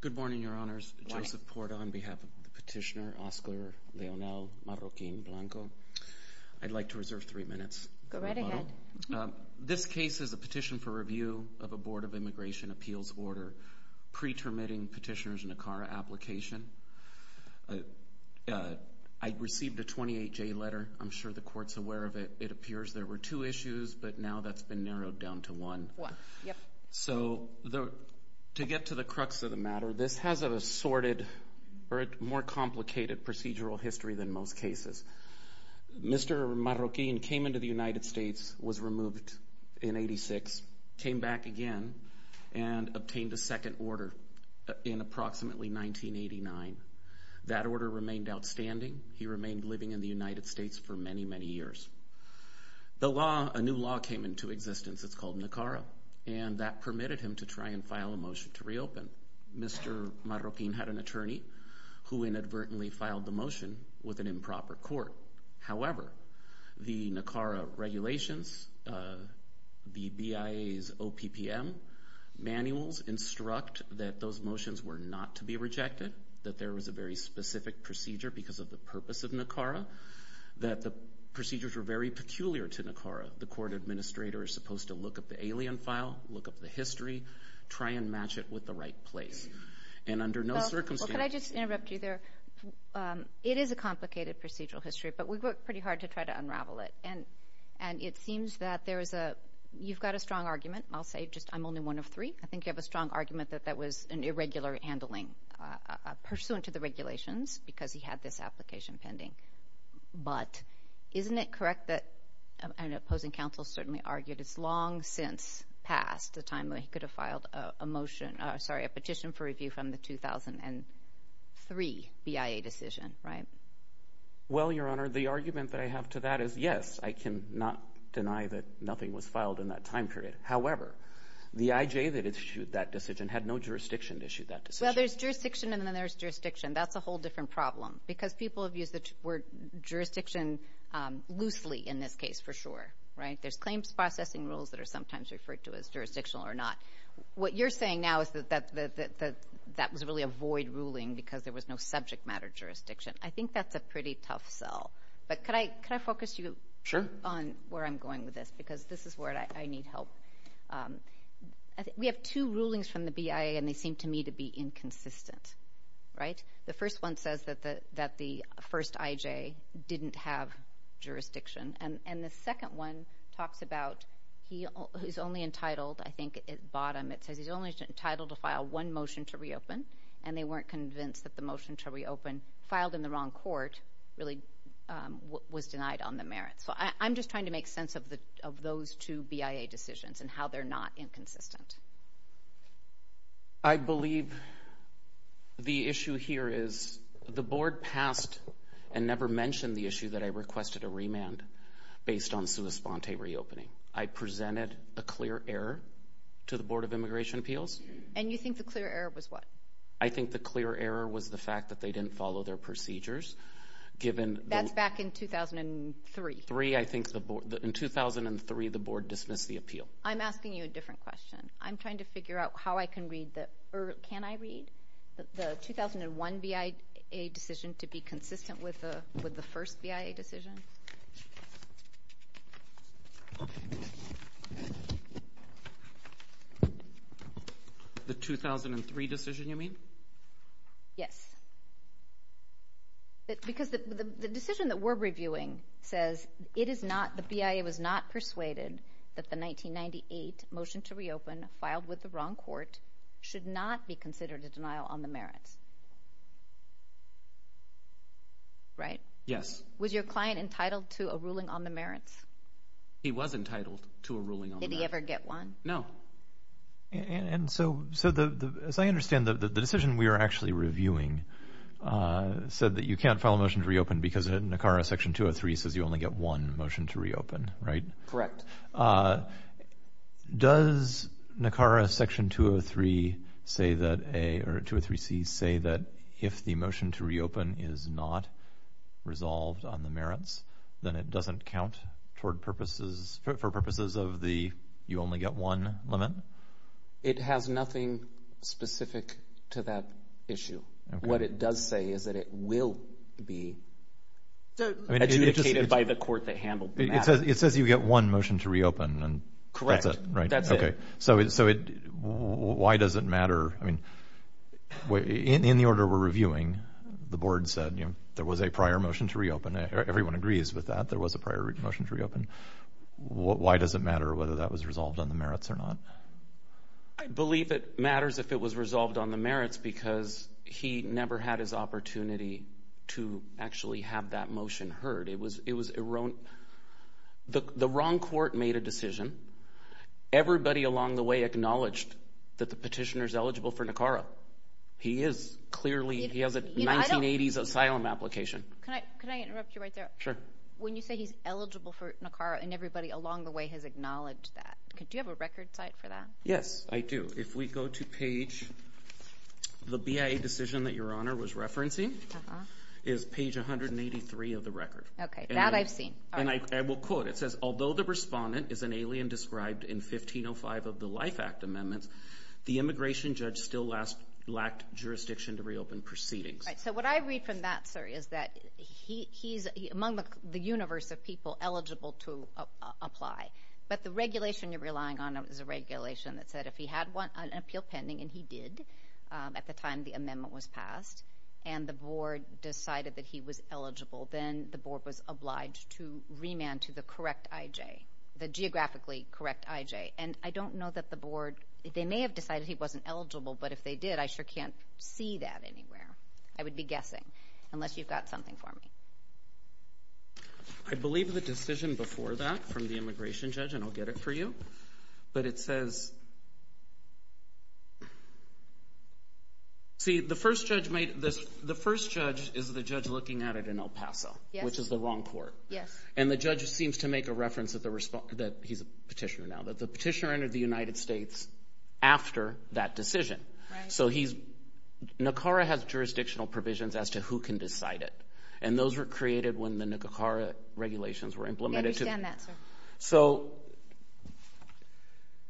Good morning, Your Honors. Joseph Porta on behalf of the petitioner, Oscar Leonel Marroquin Blanco. I'd like to reserve three minutes. Go right ahead. This case is a petition for review of a Board of Immigration Appeals order pre-termiting petitioner's NACARA application. I received a 28-J letter. I'm sure the Court's aware of it. It appears there were two issues, but now that's been narrowed down to one. So to get to the crux of the matter, this has a more complicated procedural history than most cases. Mr. Marroquin came into the United States, was removed in 1986, came back again, and obtained a second order in approximately 1989. That order remained outstanding. He remained living in the United States for many, many years. A new law came into existence. It's called NACARA, and that permitted him to try and file a motion to reopen. Mr. Marroquin had an attorney who inadvertently filed the motion with an improper court. However, the NACARA regulations, the BIA's OPPM manuals instruct that those motions were not to be rejected, that there was a very specific procedure because of the purpose of NACARA, that the procedures were very peculiar to NACARA. The court administrator is supposed to look up the alien file, look up the history, try and match it with the right place. And under no circumstances— Well, could I just interrupt you there? It is a complicated procedural history, but we've worked pretty hard to try to unravel it. And it seems that there is a—you've got a strong argument. I'll say just—I'm only one of three. I think you have a strong argument that that was an irregular handling pursuant to the regulations because he had this application pending. But isn't it correct that an opposing counsel certainly argued it's long since passed the time that he could have filed a motion—sorry, a petition for review from the 2003 BIA decision, right? Well, Your Honor, the argument that I have to that is, yes, I cannot deny that was filed in that time period. However, the IJ that issued that decision had no jurisdiction to issue that decision. Well, there's jurisdiction and then there's jurisdiction. That's a whole different problem because people have used the word jurisdiction loosely in this case for sure, right? There's claims processing rules that are sometimes referred to as jurisdictional or not. What you're saying now is that that was really a void ruling because there was no subject matter jurisdiction. I think that's a pretty tough sell. But could I focus you on where I'm going with this because this is where I need help. We have two rulings from the BIA and they seem to me to be inconsistent, right? The first one says that the first IJ didn't have jurisdiction. And the second one talks about he's only entitled—I think at the bottom it says he's only entitled to file one motion to reopen and they weren't convinced that the motion to reopen filed in the wrong court really was denied on the merits. So I'm just trying to make sense of the of those two BIA decisions and how they're not inconsistent. I believe the issue here is the board passed and never mentioned the issue that I requested a remand based on sua sponte reopening. I presented a clear error to the Board of Immigration Appeals. And you think the clear error was what? I think the clear error was the fact that they didn't follow their procedures given— That's back in 2003. I think in 2003 the board dismissed the appeal. I'm asking you a different question. I'm trying to figure out how I can read the—or can I read the 2001 BIA decision to be consistent with the first BIA decision? The 2003 decision you mean? Yes. Because the decision that we're reviewing says it is not—the BIA was not persuaded that the 1998 motion to reopen filed with the wrong court should not be considered a denial on the merits. Was your client entitled to a ruling on the merits? He was entitled to a ruling on the merits. Did he ever get one? No. And so as I understand the decision we are actually reviewing said that you can't file a motion to reopen because NACARA section 203 says you only get one motion to reopen, right? Correct. Does NACARA section 203 say that if the motion to reopen is not resolved on the merits, then it doesn't count for purposes of the you only get one limit? It has nothing specific to that issue. What it does say is that it will be adjudicated by the court that handled the matter. It says you get one motion to reopen, and that's it, right? Correct. That's it. Okay. So why does it matter? I mean, in the order we're reviewing, the board said there was a prior motion to reopen. Everyone agrees with that. There was a prior motion to reopen. Why does it matter whether that was resolved on the merits or not? I believe it matters if it was resolved on the merits because he never had his opportunity to actually have that motion heard. It was erroneous. The wrong court made a decision. Everybody along the way acknowledged that the petitioner is eligible for NACARA. He is. Clearly, he has a 1980s asylum application. Can I interrupt you right there? Sure. When you say he's eligible for NACARA and everybody along the way has acknowledged that, do you have a record site for that? Yes, I do. If we go to page the BIA decision that Your Honor was referencing is page 183 of the record. Okay. That I've seen. I will quote. It says, although the respondent is an alien described in 1505 of the Life Act amendments, the immigration judge still lacked jurisdiction to reopen proceedings. So what I read from that, sir, is that he's among the universe of people eligible to apply, but the regulation you're relying on is a regulation that said if he had an appeal pending, and he did at the time the amendment was passed, and the board decided that he was eligible, then the board was obliged to remand to the correct IJ, the geographically correct IJ. And I don't know that the board, they may have decided he wasn't eligible, but if they did, I sure can't see that anywhere. I would be guessing, unless you've got something for me. I believe the decision before that from the immigration judge, and I'll get it for you, but it says... See, the first judge is the judge looking at it in El Paso, which is the wrong court. Yes. And the judge seems to make a reference that he's a petitioner now, that the petitioner entered the United States after that decision. Right. So NACARA has jurisdictional provisions as to who can decide it, and those were created when the NACARA regulations were implemented. We understand that, sir. So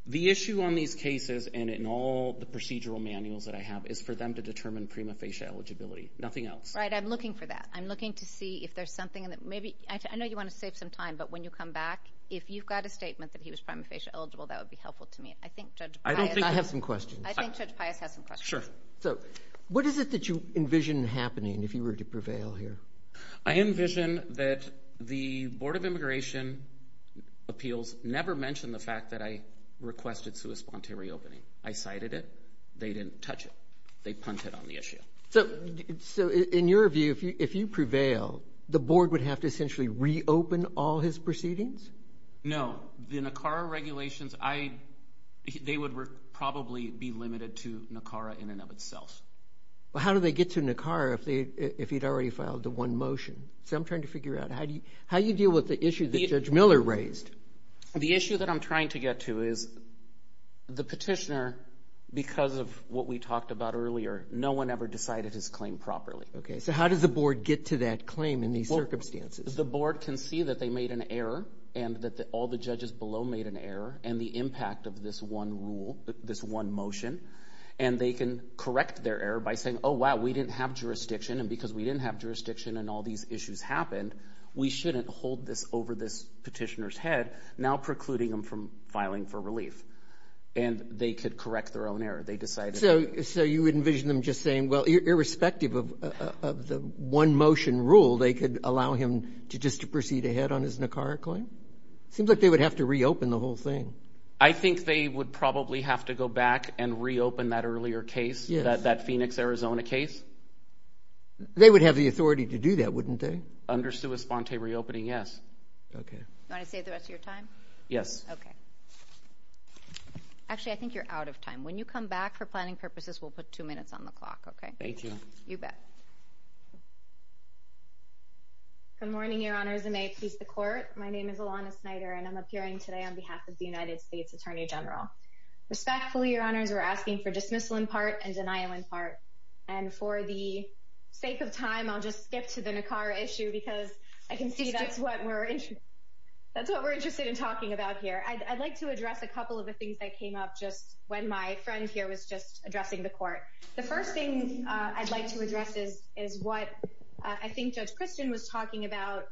the issue on these cases, and in all the procedural manuals that I have, is for them to determine prima facie eligibility, nothing else. Right, I'm looking for that. I'm looking to see if there's something that maybe... I know you want to save some time, but when you come back, if you've got a statement that he was prima facie eligible, that would be helpful to me. I think Judge Pius... I have some questions. I think Judge Pius has some questions. Sure. So what is it that you envision happening, if you were to prevail here? I envision that the Board of Immigration Appeals never mentioned the fact that I requested sui sponte reopening. I cited it. They didn't touch it. They punted on the issue. So in your view, if you prevail, the board would have to essentially reopen all his proceedings? No. The NACARA regulations, they would probably be limited to NACARA in and of itself. Well, how do they get to NACARA if he'd already filed the one motion? So I'm trying to figure out, how do you deal with the issue that Judge Miller raised? The issue that I'm trying to get to is the petitioner, because of what we talked about earlier, no one ever decided his claim properly. Okay. So how does the board get to that claim in these circumstances? The board can see that they made an error, and that all the judges below made an error, and the impact of this one rule, this one motion, and they can correct their error by saying, oh, wow, we didn't have jurisdiction. And because we didn't have jurisdiction and all these issues happened, we shouldn't hold this over this petitioner's head, now precluding them from filing for relief. And they could correct their own error. They decided. So you would envision them just saying, well, irrespective of the one motion rule, they could allow him just to proceed ahead on his NACARA claim? It seems like they would have to reopen the whole thing. I think they would probably have to go back and reopen that earlier case, that Phoenix, Arizona case. They would have the authority to do that, wouldn't they? Under sui sponte reopening, yes. Okay. You want to save the rest of your time? Yes. Okay. Actually, I think you're out of time. When you come back for planning purposes, we'll put two minutes on the clock, okay? Thank you. You bet. Good morning, Your Honor. As a mate, please the court. My name is Ilana Snyder, and I'm appearing today on behalf of the United States Attorney General. Respectfully, Your Honors, we're asking for dismissal in part and denial in part. And for the sake of time, I'll just skip to the NACARA issue because I can see that's what we're interested in talking about here. I'd like to address a couple of the things that came up just when my friend here was just addressing the court. The first thing I'd like to address is what I think Judge Christian was talking about.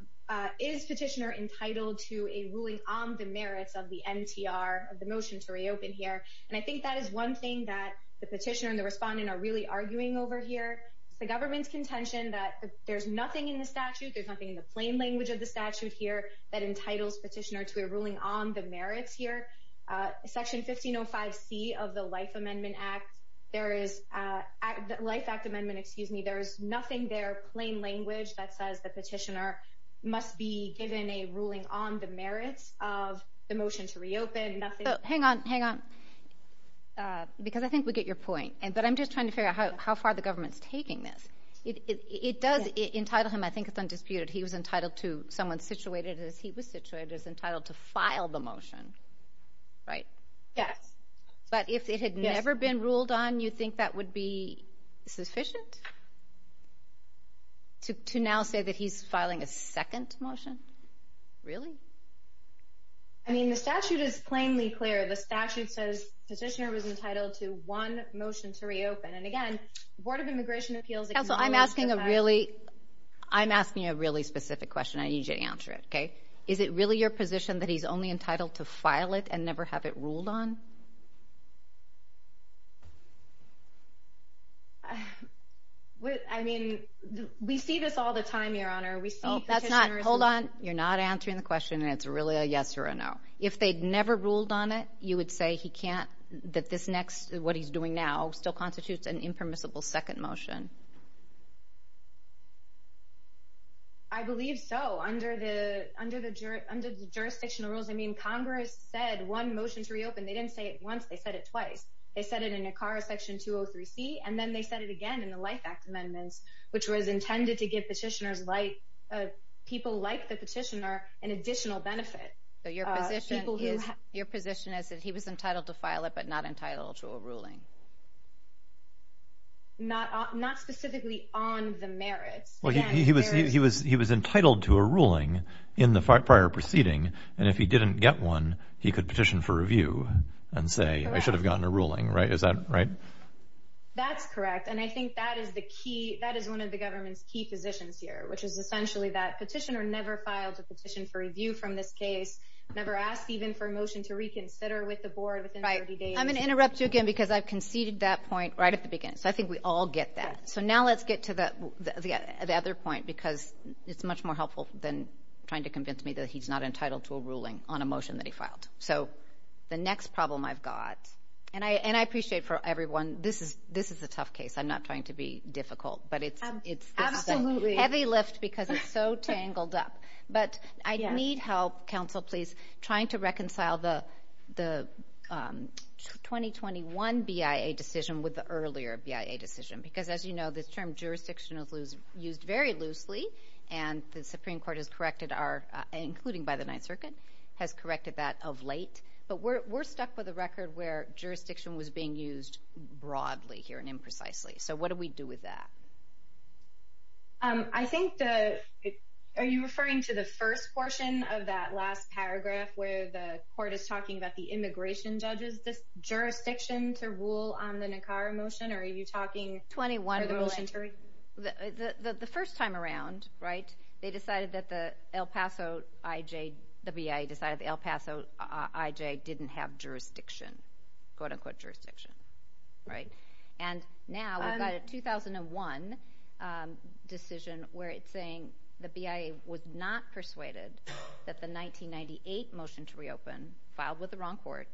Is petitioner entitled to a ruling on the merits of the NTR, of the motion to reopen here? And I think that is one thing that the petitioner and the respondent are really arguing over here. The government's contention that there's nothing in the statute, there's nothing in the plain language of the statute here that entitles petitioner to a ruling on the merits here. Section 1505C of the Life Amendment Act, there is, Life Act Amendment, excuse me, there's nothing there, plain language, that says the petitioner must be given a ruling on the merits of the motion to reopen. Hang on, hang on. Because I think we get your point. But I'm just trying to figure out how far the government's taking this. It does entitle him, I think it's undisputed, he was entitled to, someone situated as he was situated, is entitled to file the motion, right? Yes. But if it had never been ruled on, you think that would be sufficient? To now say that he's filing a second motion? Really? I mean, the statute is plainly clear. The statute says the petitioner was entitled to one motion to reopen. And again, the Board of Immigration Appeals... Counsel, I'm asking a really, I'm asking a really specific question. I need you to answer it, okay? Is it really your position that he's only entitled to file it and never have it ruled on? Well, I mean, we see this all the time, Your Honor. We see petitioners... Oh, that's not, hold on. You're not answering the question, and it's really a yes or a no. If they'd never ruled on it, you would say he can't, that this next, what he's doing now, still constitutes an impermissible second motion? I believe so. Under the jurisdictional rules, I mean, Congress said one motion to reopen. They didn't say, oh, we're going to reopen. They didn't say it once, they said it twice. They said it in ACARA Section 203C, and then they said it again in the Life Act Amendments, which was intended to give petitioners, people like the petitioner, an additional benefit. So your position is that he was entitled to file it, but not entitled to a ruling? Not specifically on the merits. Well, he was entitled to a ruling in the prior proceeding, and if he didn't get one, he could petition for review. And say, I should have gotten a ruling, right? Is that right? That's correct. And I think that is one of the government's key positions here, which is essentially that petitioner never filed a petition for review from this case, never asked even for a motion to reconsider with the board within 30 days. I'm going to interrupt you again, because I've conceded that point right at the beginning. So I think we all get that. So now let's get to the other point, because it's much more helpful than trying to convince me that he's not entitled to a ruling on a motion that he filed. So the next problem I've got, and I appreciate for everyone, this is a tough case. I'm not trying to be difficult, but it's a heavy lift because it's so tangled up. But I need help, counsel, please, trying to reconcile the 2021 BIA decision with the earlier BIA decision. Because as you know, this term jurisdiction is used very loosely, and the Supreme Court has corrected our, including by the Ninth Circuit, has corrected that of late. But we're stuck with a record where jurisdiction was being used broadly here and imprecisely. So what do we do with that? I think, are you referring to the first portion of that last paragraph where the court is talking about the immigration judges, this jurisdiction to rule on the Nicara motion, or are you talking for the motion to review? The first time around, right, they decided that the El Paso IJ, the BIA decided the El Paso IJ didn't have jurisdiction, quote-unquote jurisdiction, right. And now we've got a 2001 decision where it's saying the BIA was not persuaded that the 1998 motion to reopen, filed with the wrong court,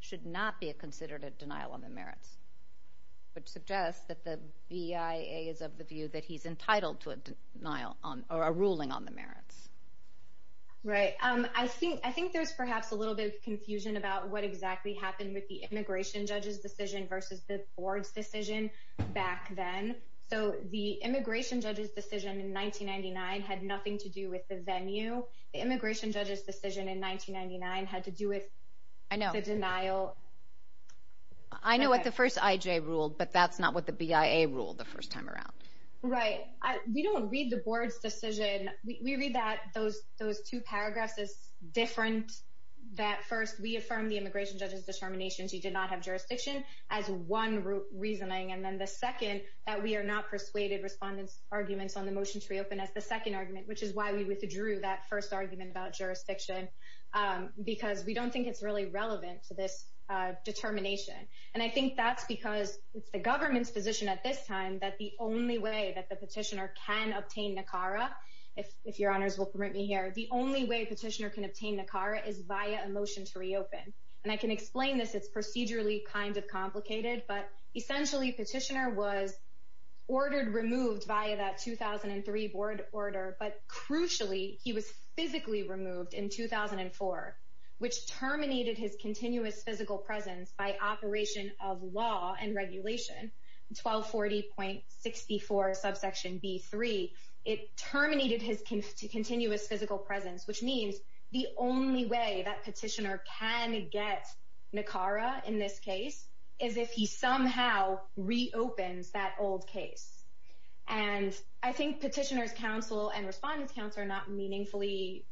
should not be considered a denial on the merits, which suggests that the BIA is of the view that he's entitled to a denial or a ruling on the merits. Right, I think there's perhaps a little bit of confusion about what exactly happened with the immigration judge's decision versus the board's decision back then. So the immigration judge's decision in 1999 had nothing to do with the venue. The immigration judge's decision in 1999 had to do with the denial. I know what the first IJ ruled, but that's not what the BIA ruled the first time around. Right, we don't read the board's decision. We read that those two paragraphs as different. That first, we affirm the immigration judge's determination she did not have jurisdiction as one reasoning. And then the second, that we are not persuaded respondents' arguments on the motion to reopen as the second argument, which is why we withdrew that first argument about jurisdiction, because we don't think it's really relevant to this determination. And I think that's because it's the government's position at this time that the only way that the petitioner can obtain NACARA, if your honors will permit me here, the only way petitioner can obtain NACARA is via a motion to reopen. And I can explain this, it's procedurally kind of complicated, but essentially petitioner was ordered removed via that 2003 board order, but crucially, he was physically removed in 2004, which terminated his continuous physical presence by operation of law and regulation 1240.64 subsection B3. It terminated his continuous physical presence, which means the only way that petitioner can get NACARA in this case is if he somehow reopens that old case. And I think petitioner's counsel and respondents' counsel are not meaningfully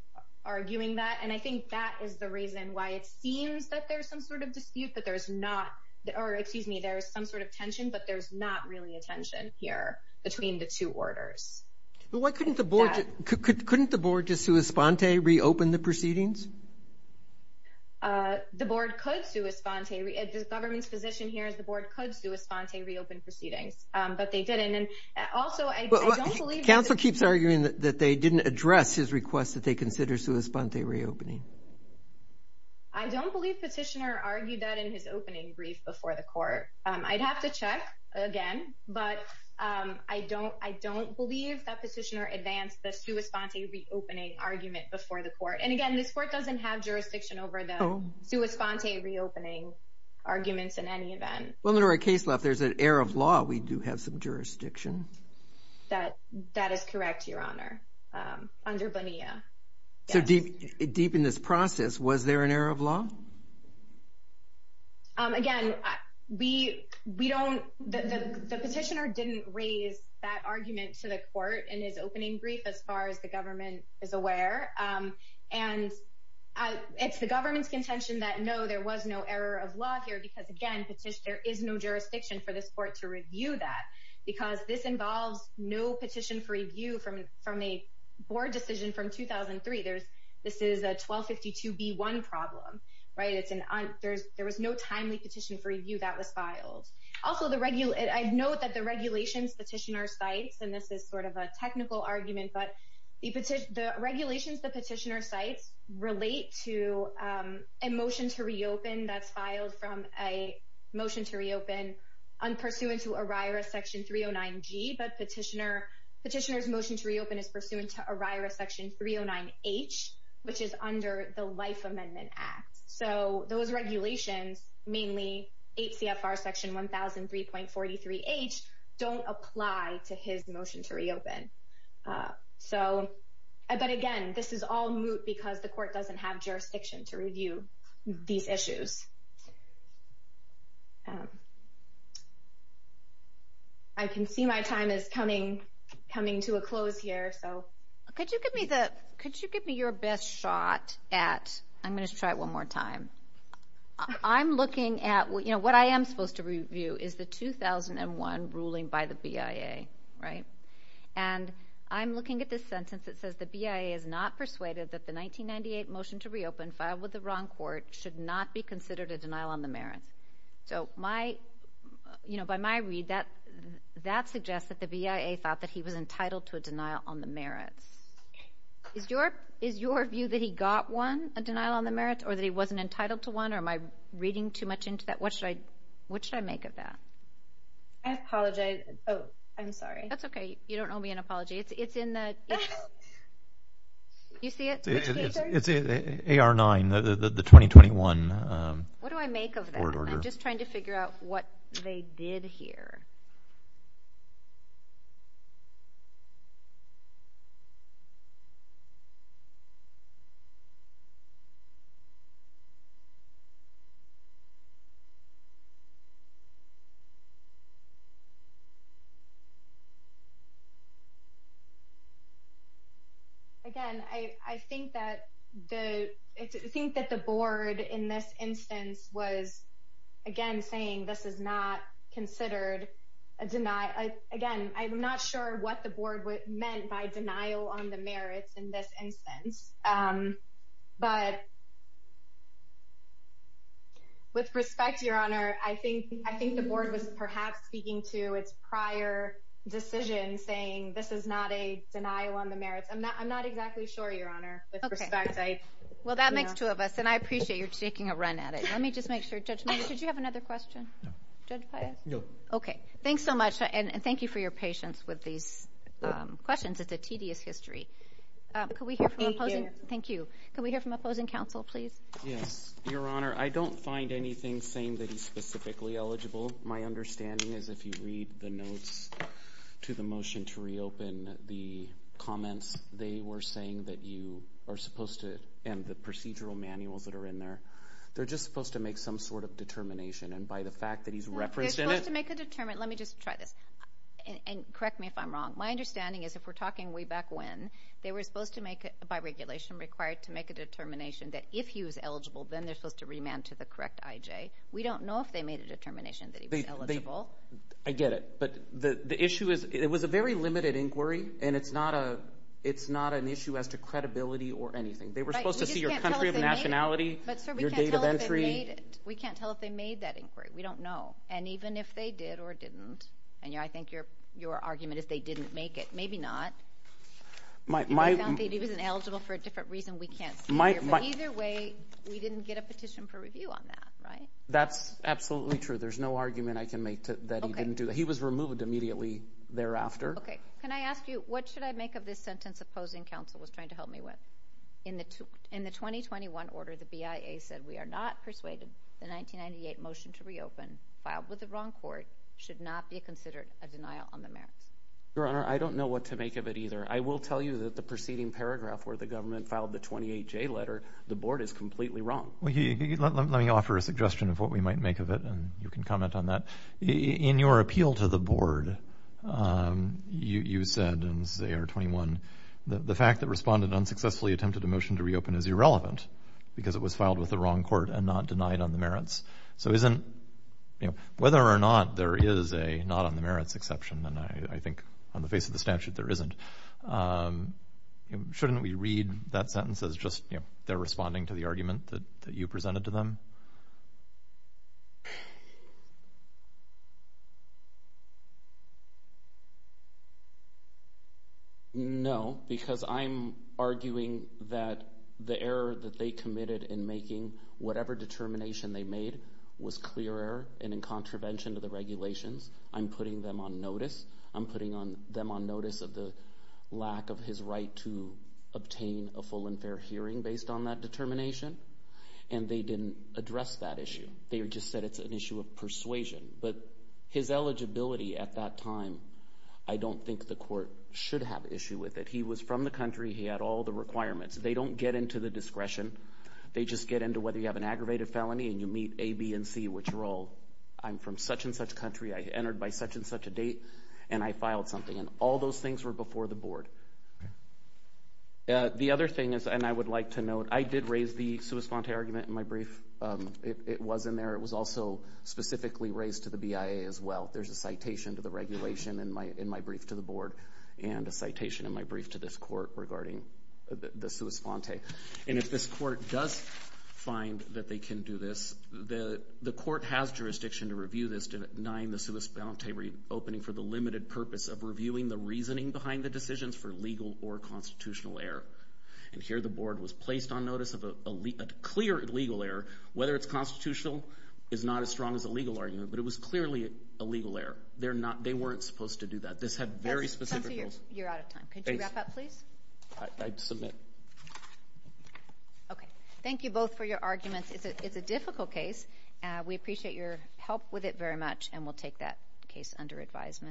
arguing that. And I think that is the reason why it seems that there's some sort of dispute, but there's not, or excuse me, there's some sort of tension, but there's not really a tension here between the two orders. But why couldn't the board, couldn't the board just sua sponte reopen the proceedings? The board could sua sponte, the government's position here is the board could sua sponte reopen proceedings, but they didn't. And also, I don't believe- Counsel keeps arguing that they didn't address his request that they consider sua sponte reopening. I don't believe petitioner argued that in his opening brief before the court. I'd have to check again, but I don't believe that petitioner advanced the sua sponte reopening argument before the court. And again, this court doesn't have jurisdiction over the sua sponte reopening arguments in any event. Well, in our case left, there's an error of law. We do have some jurisdiction. That is correct, Your Honor, under Bonilla. So deep in this process, was there an error of law? Again, we don't, the petitioner didn't raise that argument to the court in his opening brief as far as the government is aware. And it's the government's contention that no, there was no error of law here because again, there is no jurisdiction for this court to review that because this involves no petition for review from a board decision from 2003. There's, this is a 1252B1 problem, right? It's an, there was no timely petition for review that was filed. Also, I'd note that the regulations petitioner cites, and this is sort of a technical argument, but the regulations the petitioner cites relate to a motion to reopen that's filed from a motion to reopen unpursuant to ORIRA section 309G, but petitioner's motion to reopen is pursuant to ORIRA section 309H, which is under the Life Amendment Act. So those regulations, mainly HCFR section 1003.43H, don't apply to his motion to reopen. So, but again, this is all moot because the court doesn't have jurisdiction to review these issues. I can see my time is coming, coming to a close here, so. Could you give me the, could you give me your best shot at, I'm going to try it one more time. I'm looking at, you know, what I am supposed to review is the 2001 ruling by the BIA, right? And I'm looking at this sentence that says, the BIA is not persuaded that the 1998 motion to reopen filed with the wrong court should not be considered a violation on the merits. So my, you know, by my read, that suggests that the BIA thought that he was entitled to a denial on the merits. Is your view that he got one, a denial on the merits, or that he wasn't entitled to one? Or am I reading too much into that? What should I, what should I make of that? I apologize. Oh, I'm sorry. That's okay. You don't owe me an apology. It's in the, you see it? It's AR 9, the 2021. What do I make of that? I'm just trying to figure out what they did here. Again, I think that the, I think that the board in this instance was again, saying, this is not considered a deny. Again, I'm not sure what the board meant by denial on the merits in this instance. But with respect to your honor, I think, I think the board was perhaps speaking to its prior decision saying, this is not a denial on the merits. I'm not, I'm not exactly sure your honor with respect. Well, that makes two of us. And I appreciate you're taking a run at it. Let me just make sure judge, did you have another question? Okay. Thanks so much. And thank you for your patience with these questions. It's a tedious history. Thank you. Can we hear from opposing counsel, please? Yes, your honor. I don't find anything saying that he's specifically eligible. My understanding is if you read the notes to the motion to reopen the comments, they were saying that you are supposed to, and the procedural manuals that are in there, they're just supposed to make some sort of determination. And by the fact that he's represented. They're supposed to make a determined. Let me just try this and correct me if I'm wrong. My understanding is if we're talking way back when, they were supposed to make it by regulation required to make a determination that if he was eligible, then they're supposed to remand to the correct IJ. We don't know if they made a determination that he was eligible. I get it. But the issue is it was a very limited inquiry. And it's not a, it's not an issue as to credibility or anything. They were supposed to see your country of nationality. But sir, we can't tell if they made it. We can't tell if they made that inquiry. We don't know. And even if they did or didn't, and I think your argument is they didn't make it. Maybe not. My, my, he was eligible for a different reason. We can't either way. We didn't get a petition for review on that, right? That's absolutely true. There's no argument I can make that he didn't do that. He was removed immediately thereafter. Okay. Can I ask you, what should I make of this sentence? Opposing counsel was trying to help me with In the 2021 order, the BIA said we are not persuaded. The 1998 motion to reopen filed with the wrong court should not be considered a denial on the merits. Your Honor, I don't know what to make of it either. I will tell you that the preceding paragraph where the government filed the 28J letter, the board is completely wrong. Let me offer a suggestion of what we might make of it. And you can comment on that. In your appeal to the board, you said, and this is AR-21, the fact that respondent unsuccessfully attempted a motion to reopen is irrelevant because it was filed with the wrong court and not denied on the merits. So whether or not there is a not on the merits exception, and I think on the face of the statute, there isn't, shouldn't we read that sentence as just, they're responding to the argument that you presented to them? No, because I'm arguing that the error that they committed in making whatever determination they made was clear error and in contravention to the regulations. I'm putting them on notice. I'm putting them on notice of the lack of his right to obtain a full and fair hearing They didn't do that. They didn't do that. They just said it's an issue of persuasion, but his eligibility at that time, I don't think the court should have issue with it. He was from the country. He had all the requirements. They don't get into the discretion. They just get into whether you have an aggravated felony and you meet A, B, and C, which are all, I'm from such and such country. I entered by such and such a date and I filed something. And all those things were before the board. The other thing is, and I would like to note, I did raise the sua sponte argument in my brief. It was in there. It was also specifically raised to the BIA as well. There's a citation to the regulation in my brief to the board and a citation in my brief to this court regarding the sua sponte. And if this court does find that they can do this, the court has jurisdiction to review this, to deny the sua sponte reopening for the limited purpose of reviewing the reasoning behind the decisions for legal or constitutional error. And here, the board was placed on notice of a clear legal error. Whether it's constitutional is not as strong as a legal argument, but it was clearly a legal error. They're not, they weren't supposed to do that. This had very specific rules. You're out of time. Could you wrap up, please? I submit. Okay. Thank you both for your arguments. It's a difficult case. We appreciate your help with it very much. And we'll take that case under advisement.